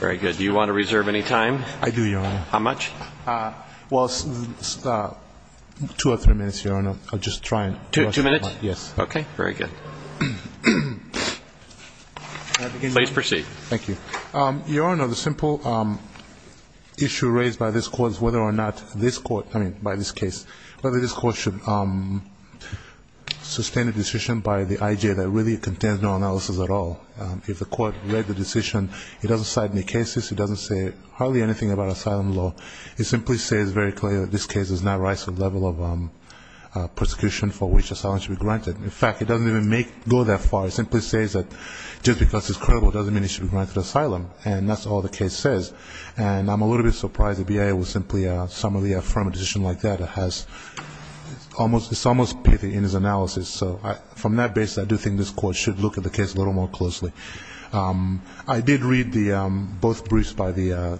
Very good. Do you want to reserve any time? I do, Your Honor. How much? Well, two or three minutes, Your Honor. I'll just try and question the court. Two minutes? Yes. Okay, very good. Please proceed. Thank you. Your Honor, the simple issue raised by this Court is whether or not this Court, I mean, by this case, whether this Court should sustain a decision by the side Mukasey, who doesn't say hardly anything about asylum law, he simply says very clearly that this case does not raise the level of prosecution for which asylum should be granted. In fact, he doesn't even go that far. He simply says that just because it's credible doesn't mean it should be granted asylum, and that's all the case says. And I'm a little bit surprised the BIA would simply summarily affirm a decision like that. It's almost pithy in its analysis. So from that basis, I do think this Court should look at the case a little more closely. I did read both briefs by the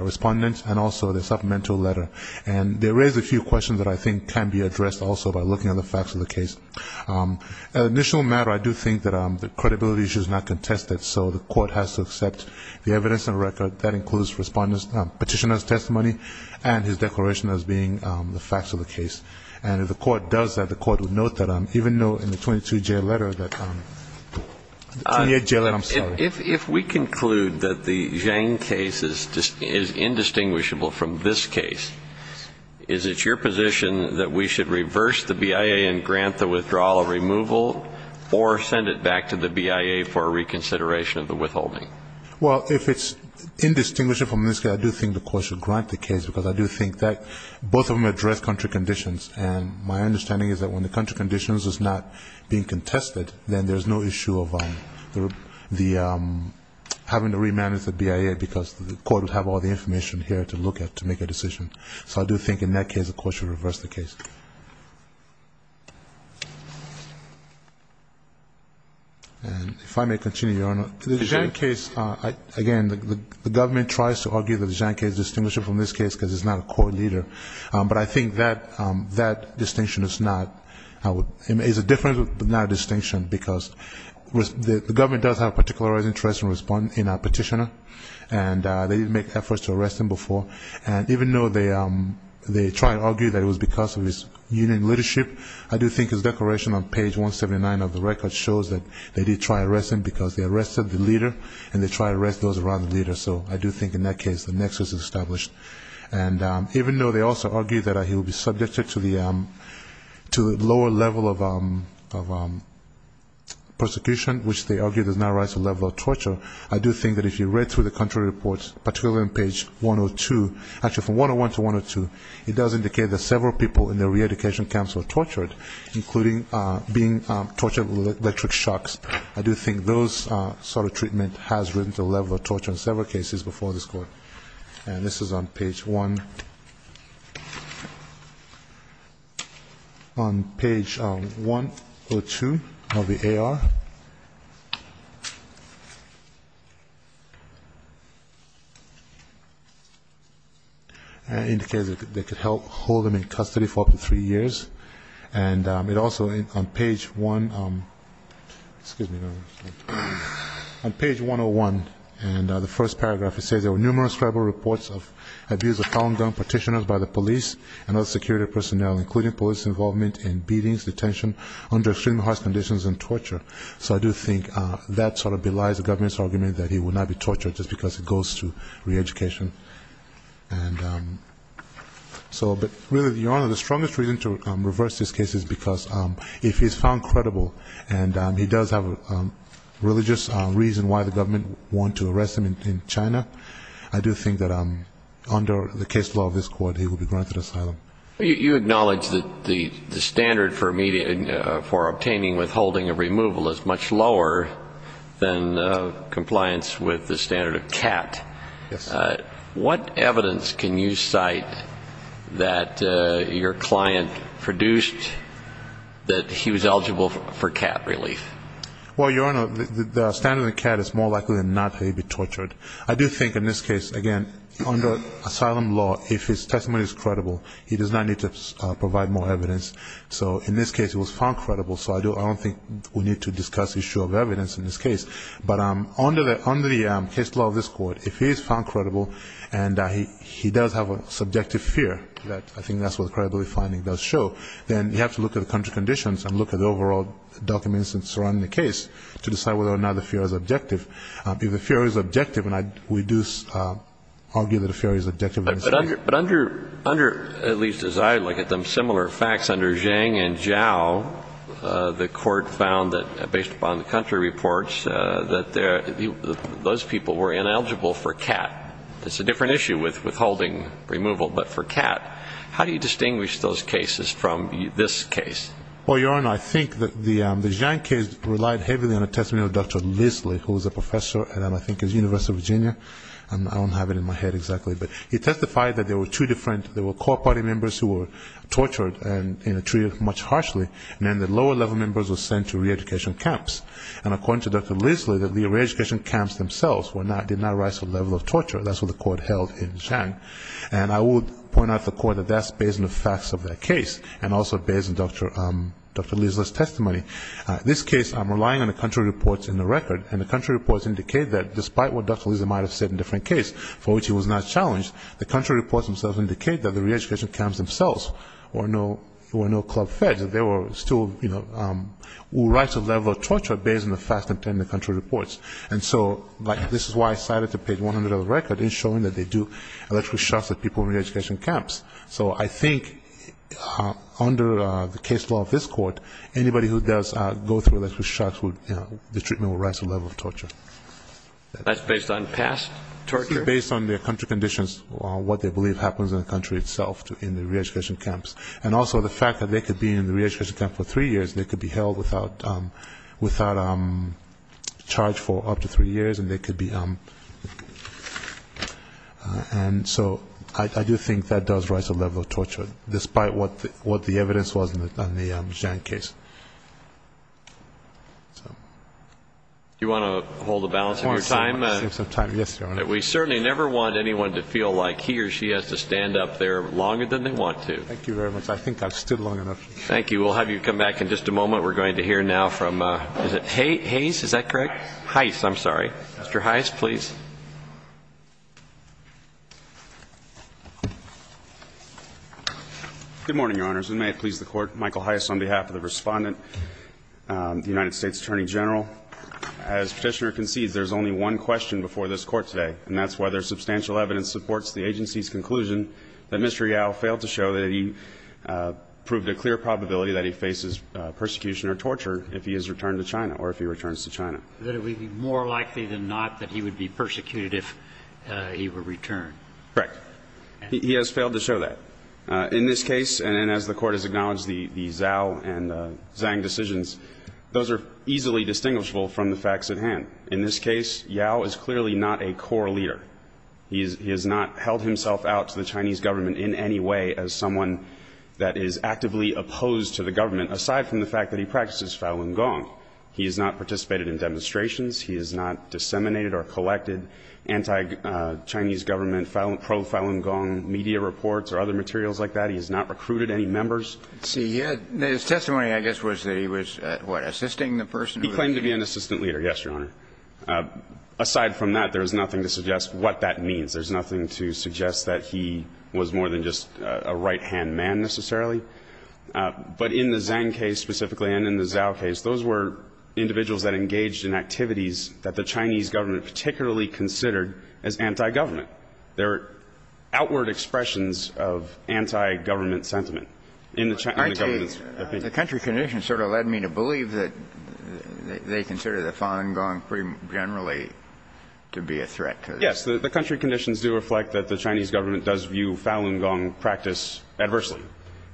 Respondent and also the supplemental letter, and they raised a few questions that I think can be addressed also by looking at the facts of the case. On the initial matter, I do think that the credibility issue is not contested, so the Court has to accept the evidence and record that includes Respondent's petitioner's testimony and his declaration as being the facts of the case. And if the Court does that, the Court would note that even though in the 22J letter that I'm sorry. If we conclude that the Zhang case is indistinguishable from this case, is it your position that we should reverse the BIA and grant the withdrawal or removal or send it back to the BIA for reconsideration of the withholding? Well, if it's indistinguishable from this case, I do think the Court should grant the case, because I do think that both of them address country conditions. And my understanding is that when the country conditions is not being contested, then there's no issue of having to remanage the BIA, because the Court would have all the information here to look at to make a decision. So I do think in that case the Court should reverse the case. And if I may continue, Your Honor. The Zhang case, again, the government tries to argue that the Zhang case is indistinguishable from this case because it's not a court leader. But I think that distinction is not. It's a different, but not a court. The government does have a particular interest in a petitioner, and they did make efforts to arrest him before. And even though they try to argue that it was because of his union leadership, I do think his declaration on page 179 of the record shows that they did try to arrest him because they arrested the leader, and they tried to arrest those around the leader. So I do think in that case the nexus is established. And even though they also argue that he will be subjected to lower level of persecution, which they argue does not rise to the level of torture, I do think that if you read through the contrary reports, particularly on page 102, actually from 101 to 102, it does indicate that several people in the reeducation camps were tortured, including being tortured with electric shocks. I do think those sort of treatment has risen to the level of torture in several cases before this Court. And this is on page 1. On page 102 of the AR, it indicates that they could hold him in custody for up to three years. And it also, on page one, excuse me, on page 101, and the first paragraph, it says there were numerous federal reports of abuse of found gun petitioners by the security personnel, including police involvement in beatings, detention, under extreme harsh conditions and torture. So I do think that sort of belies the government's argument that he will not be tortured just because he goes to reeducation. And so, but really, Your Honor, the strongest reason to reverse this case is because if he's found credible and he does have a religious reason why the government want to arrest him in China, I do think that under the case law of this Court, he will be granted asylum. You acknowledge that the standard for obtaining withholding of removal is much lower than compliance with the standard of CAT. What evidence can you cite that your client produced that he was eligible for CAT relief? Well, Your Honor, the standard of CAT is more likely than not that he would be found credible. So in this case, he was found credible. So I don't think we need to discuss issue of evidence in this case. But under the case law of this Court, if he is found credible and he does have a subjective fear, I think that's what the credibility finding does show, then you have to look at the country conditions and look at the overall documents surrounding the case to decide whether or not the fear is objective. If the fear is objective, and we do argue that the fear is objective... But under, at least as I look at them, similar facts under Zhang and Zhao, the Court found that, based upon the country reports, that those people were ineligible for CAT. It's a different issue with withholding removal, but for CAT. How do you distinguish those cases from this case? Well, Your Honor, I think that the Zhang case relied heavily on a testimony of Dr. Lisley, who is a professor at, I think, University of Virginia. I don't have it in my head exactly, but he testified that there were two different, there were core party members who were tortured and treated much harshly, and then the lower level members were sent to re-education camps. And according to Dr. Lisley, the re-education camps themselves did not rise to the level of torture. That's what the Court held in Zhang. And I would point out to the Court that that's based on the facts of that case, and also based on Dr. Lisley's testimony. In this case, I'm relying on the country reports in the record, and the country reports indicate that, despite what Dr. Lisley might have said in a different case, for which he was not challenged, the country reports themselves indicate that the re-education camps themselves were no club feds, that they were still, you know, would rise to the level of torture based on the facts contained in the country reports. And so this is why I cited the page 100 of the record in showing that they do electric shocks at people in re-education camps. So I think under the case law of this Court, anybody who does go through electric shocks, the treatment would rise to the level of torture. That's based on past torture? It's based on the country conditions, what they believe happens in the country itself in the re-education camps. And also the fact that they could be in the re-education camp for three years, they could be held without charge for up to three years, and they could be, and so I do think that does rise to the level of torture, despite what the evidence was in the Zhang case. Do you want to hold the balance of your time? Yes, Your Honor. We certainly never want anyone to feel like he or she has to stand up there longer than they want to. Thank you very much. I think I've stood long enough. Thank you. We'll have you come back in just a moment. We're going to hear now from, is it Hayes, is that correct? Hayes. Hayes, I'm sorry. Mr. Hayes, please. Good morning, Your Honors, and may it please the Court, Michael Hayes on United States Attorney General. As Petitioner concedes, there's only one question before this Court today, and that's whether substantial evidence supports the agency's conclusion that Mr. Yao failed to show that he proved a clear probability that he faces persecution or torture if he is returned to China or if he returns to China. That it would be more likely than not that he would be persecuted if he were returned. Correct. He has failed to show that. In this case, and as the Court has acknowledged, the Zhao and Zhang decisions, those are easily distinguishable from the facts at hand. In this case, Yao is clearly not a core leader. He has not held himself out to the Chinese government in any way as someone that is actively opposed to the government, aside from the fact that he practices Falun Gong. He has not participated in demonstrations. He has not disseminated or collected anti-Chinese government, pro-Falun Gong media reports or other materials like that. He has not recruited any members. Let's see. His testimony, I guess, was that he was, what, assisting the person? He claimed to be an assistant leader, yes, Your Honor. Aside from that, there is nothing to suggest what that means. There's nothing to suggest that he was more than just a right-hand man, necessarily. But in the Zhang case specifically and in the Zhao case, those were individuals that engaged in activities that the Chinese government particularly considered as anti-government. There are outward expressions of anti-government sentiment in the Chinese government. The country conditions sort of led me to believe that they consider the Falun Gong generally to be a threat to this. Yes. The country conditions do reflect that the Chinese government does view Falun Gong practice adversely.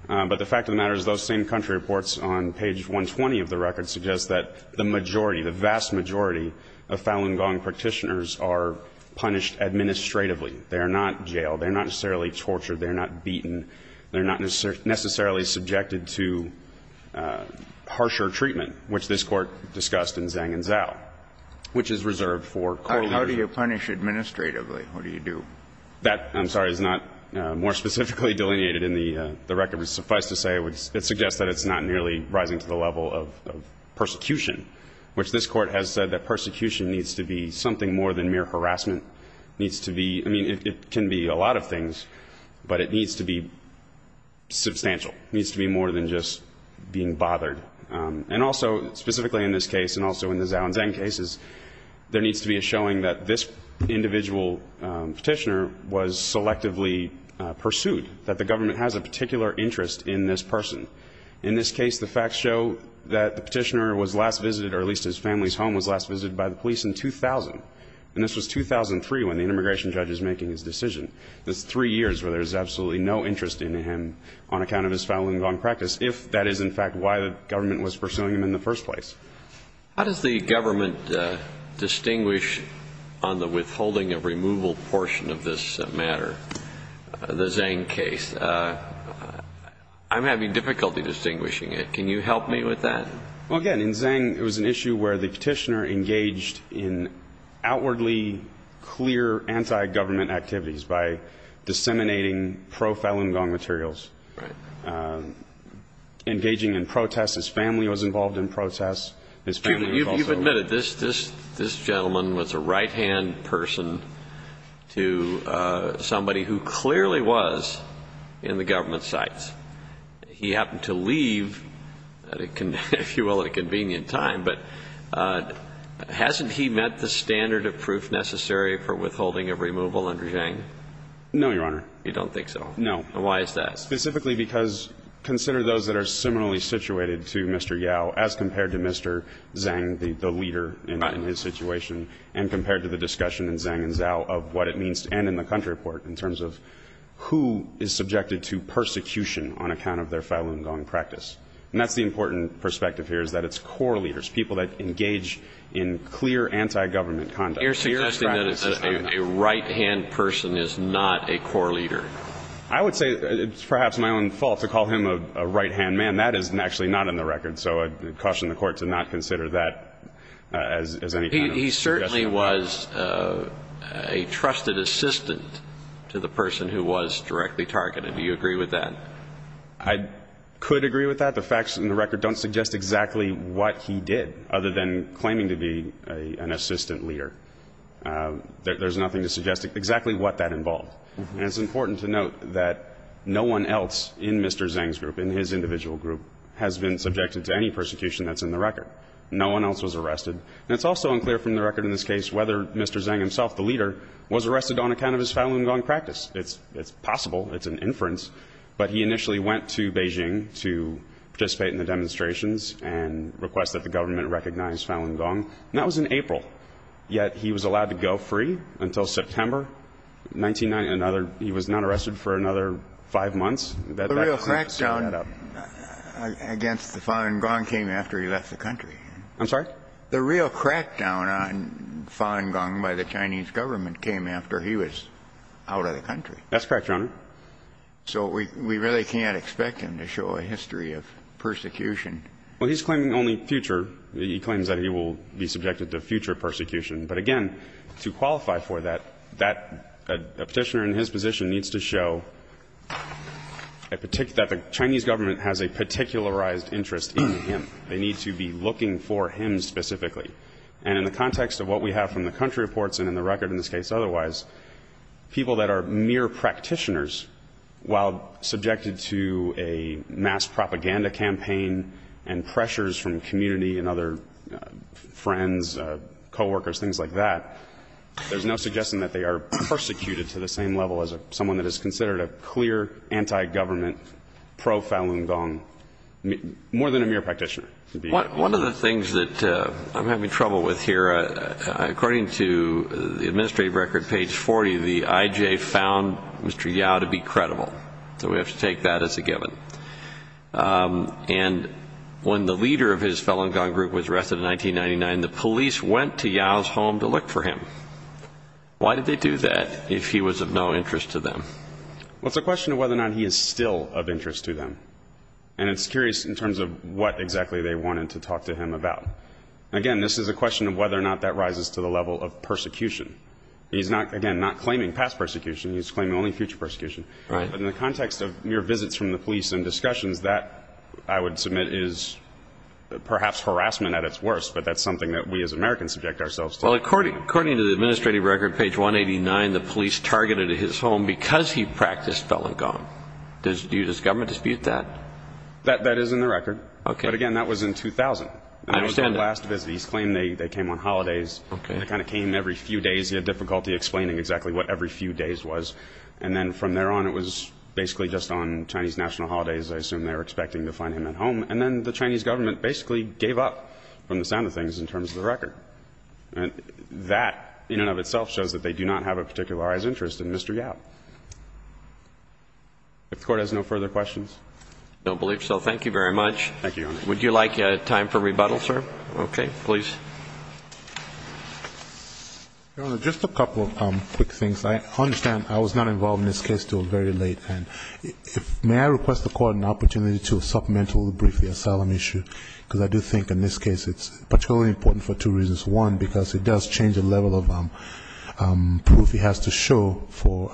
But the fact of the matter is those same country reports on page 120 of the record suggest that the majority, the vast majority of Falun Gong practitioners are punished administratively. They are not jailed. They are not necessarily tortured. They are not beaten. They are not necessarily subjected to harsher treatment, which this Court discussed in Zhang and Zhao, which is reserved for court leaders. How do you punish administratively? What do you do? That, I'm sorry, is not more specifically delineated in the record, but suffice to say it would suggest that it's not nearly rising to the level of persecution, which this Court has said that persecution needs to be something more than mere harassment. It can be a lot of things, but it needs to be substantial. It needs to be more than just being bothered. And also, specifically in this case and also in the Zhao and Zhang cases, there needs to be a showing that this individual petitioner was selectively pursued, that the government has a particular interest in this person. In this case, the facts show that the petitioner was last visited, or at least his family's home was last visited by the police in 2000. And this was 2003 when the immigration judge is making his decision. That's three years where there's absolutely no interest in him on account of his Falun Gong practice, if that is, in fact, why the government was pursuing him in the first place. How does the government distinguish on the withholding of removal portion of this matter, the Zhang case? I'm having difficulty distinguishing it. Can you help me with that? Well, again, in Zhang, it was an issue where the petitioner engaged in outwardly clear anti-government activities by disseminating pro-Falun Gong materials, engaging in protests. His family was involved in protests. You've admitted this gentleman was a right-hand person to somebody who clearly was in the government's sights. He happened to leave, if you will, at a convenient time. But hasn't he met the standard of proof necessary for withholding of removal under Zhang? No, Your Honor. You don't think so? No. Why is that? Specifically because consider those that are similarly situated to Mr. Yao as compared to Mr. Zhang, the leader in his situation, and compared to the discussion in Zhang and Zhao of what it means, and in the country report, in terms of who is subjected to persecution on account of their Falun Gong practice. And that's the important perspective here is that it's core leaders, people that engage in clear anti-government conduct. You're suggesting that a right-hand person is not a core leader. I would say it's perhaps my own fault to call him a right-hand man. That is actually not in the record, so I'd caution the Court to not consider that as any kind of suggestion. He certainly was a trusted assistant to the person who was directly targeted. Do you agree with that? I could agree with that. The facts in the record don't suggest exactly what he did, other than claiming to be an assistant leader. There's nothing to suggest exactly what that involved. And it's important to note that no one else in Mr. Zhang's group, in his individual group, has been subjected to any persecution that's in the record. No one else was arrested. And it's also unclear from the record in this case whether Mr. Zhang himself, the leader, was arrested on account of his Falun Gong practice. It's possible. It's an inference. But he initially went to Beijing to participate in the demonstrations and request that the government recognize Falun Gong, and that was in April. Yet he was allowed to go free until September 1990. He was not arrested for another five months. The real crackdown against the Falun Gong came after he left the country. I'm sorry? The real crackdown on Falun Gong by the Chinese government came after he was out of the country. That's correct, Your Honor. Well, he's claiming only future. He claims that he will be subjected to future persecution. But again, to qualify for that, a petitioner in his position needs to show that the Chinese government has a particularized interest in him. They need to be looking for him specifically. And in the context of what we have from the country reports and in the record in this case otherwise, people that are mere practitioners, while subjected to a mass propaganda campaign and pressures from community and other friends, coworkers, things like that, there's no suggestion that they are persecuted to the same level as someone that is considered a clear anti-government pro-Falun Gong, more than a mere practitioner. One of the things that I'm having trouble with here, according to the administrative record, page 40, the IJ found Mr. Yao to be credible. So we have to take that as a given. And when the leader of his Falun Gong group was arrested in 1999, the police went to Yao's home to look for him. Why did they do that if he was of no interest to them? Well, it's a question of whether or not he is still of interest to them. And it's curious in terms of what exactly they wanted to talk to him about. Again, this is a question of whether or not that rises to the level of persecution. He's not, again, not claiming past persecution. He's claiming only future persecution. But in the context of mere visits from the police and discussions, that I would submit is perhaps harassment at its worst, but that's something that we as Americans subject ourselves to. Well, according to the administrative record, page 189, the police targeted his home because he practiced Falun Gong. Does the government dispute that? That is in the record. Okay. But, again, that was in 2000. I understand that. And that was his last visit. He's claimed they came on holidays. Okay. They kind of came every few days. He had difficulty explaining exactly what every few days was. And then from there on, it was basically just on Chinese national holidays, I assume they were expecting to find him at home. And then the Chinese government basically gave up from the sound of things in terms of the record. That in and of itself shows that they do not have a particularized interest in Mr. Yao. If the Court has no further questions. I don't believe so. Thank you very much. Thank you, Your Honor. Would you like time for rebuttal, sir? Okay. Please. Your Honor, just a couple of quick things. I understand I was not involved in this case until very late. May I request the Court an opportunity to supplement briefly the asylum issue? Because I do think in this case it's particularly important for two reasons. One, because it does change the level of proof he has to show for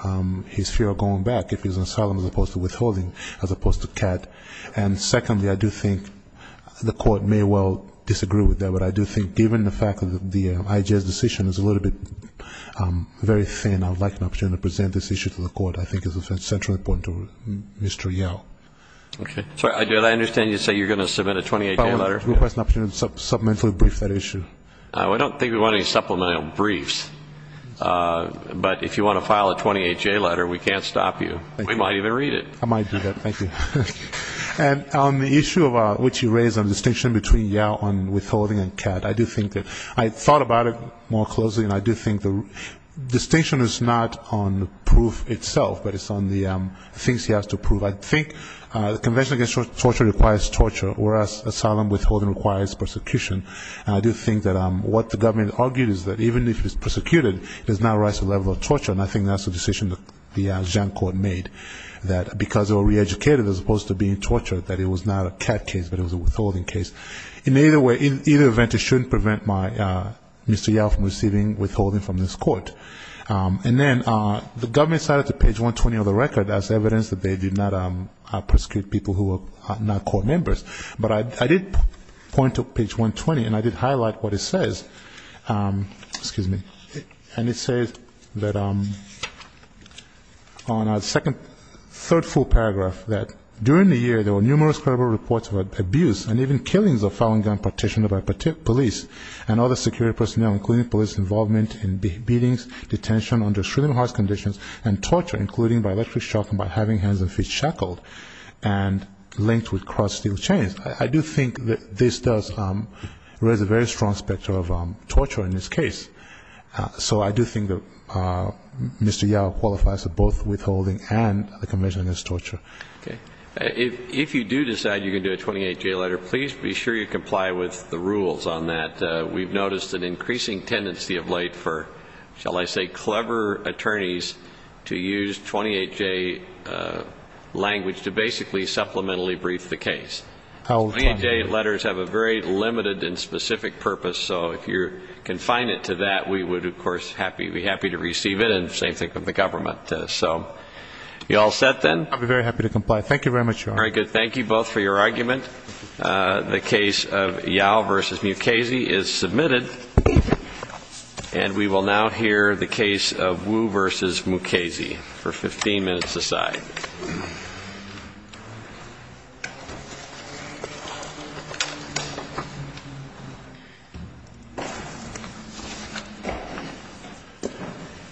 his fear of going back, if he's in asylum, as opposed to withholding, as opposed to CAD. And secondly, I do think the Court may well disagree with that, but I do think given the fact that the IJA's decision is a little bit very thin, I would like an opportunity to present this issue to the Court. I think it's essentially important to Mr. Yao. Okay. I understand you say you're going to submit a 28-J letter. I would like to request an opportunity to supplementarily brief that issue. I don't think we want any supplemental briefs, but if you want to file a 28-J letter, we can't stop you. We might even read it. I might do that. Thank you. And on the issue which you raised on the distinction between Yao on withholding and CAD, I do think that I thought about it more closely, and I do think the distinction is not on the proof itself, but it's on the things he has to prove. I think the Convention Against Torture requires torture, whereas asylum withholding requires persecution. And I do think that what the government argued is that even if he's persecuted, there's not a rise to the level of torture. And I think that's a decision the Xiang Court made, that because they were reeducated as opposed to being tortured, that it was not a CAD case, but it was a withholding case. In either event, it shouldn't prevent Mr. Yao from receiving withholding from this court. And then the government cited to page 120 of the record as evidence that they did not persecute people who are not court members. But I did point to page 120, and I did highlight what it says. Excuse me. And it says that on our second, third full paragraph, that during the year, there were numerous credible reports of abuse and even killings of Falun Gong practitioners by police and other security personnel, including police involvement in beatings, detention under extremely harsh conditions, and torture, including by electric shock and by having hands and feet shackled and linked with cross steel chains. I do think that this does raise a very strong specter of torture in this case. So I do think that Mr. Yao qualifies for both withholding and the conviction as torture. Okay. If you do decide you're going to do a 28-J letter, please be sure you comply with the rules on that. We've noticed an increasing tendency of late for, shall I say, clever attorneys to use 28-J language to basically supplementally brief the case. 28-J letters have a very limited and specific purpose. So if you're confined to that, we would, of course, be happy to receive it. And same thing with the government. So are you all set then? I'll be very happy to comply. Thank you very much, Your Honor. Very good. Thank you both for your argument. The case of Yao v. Mukasey is submitted. And we will now hear the case of Wu v. Mukasey for 15 minutes aside.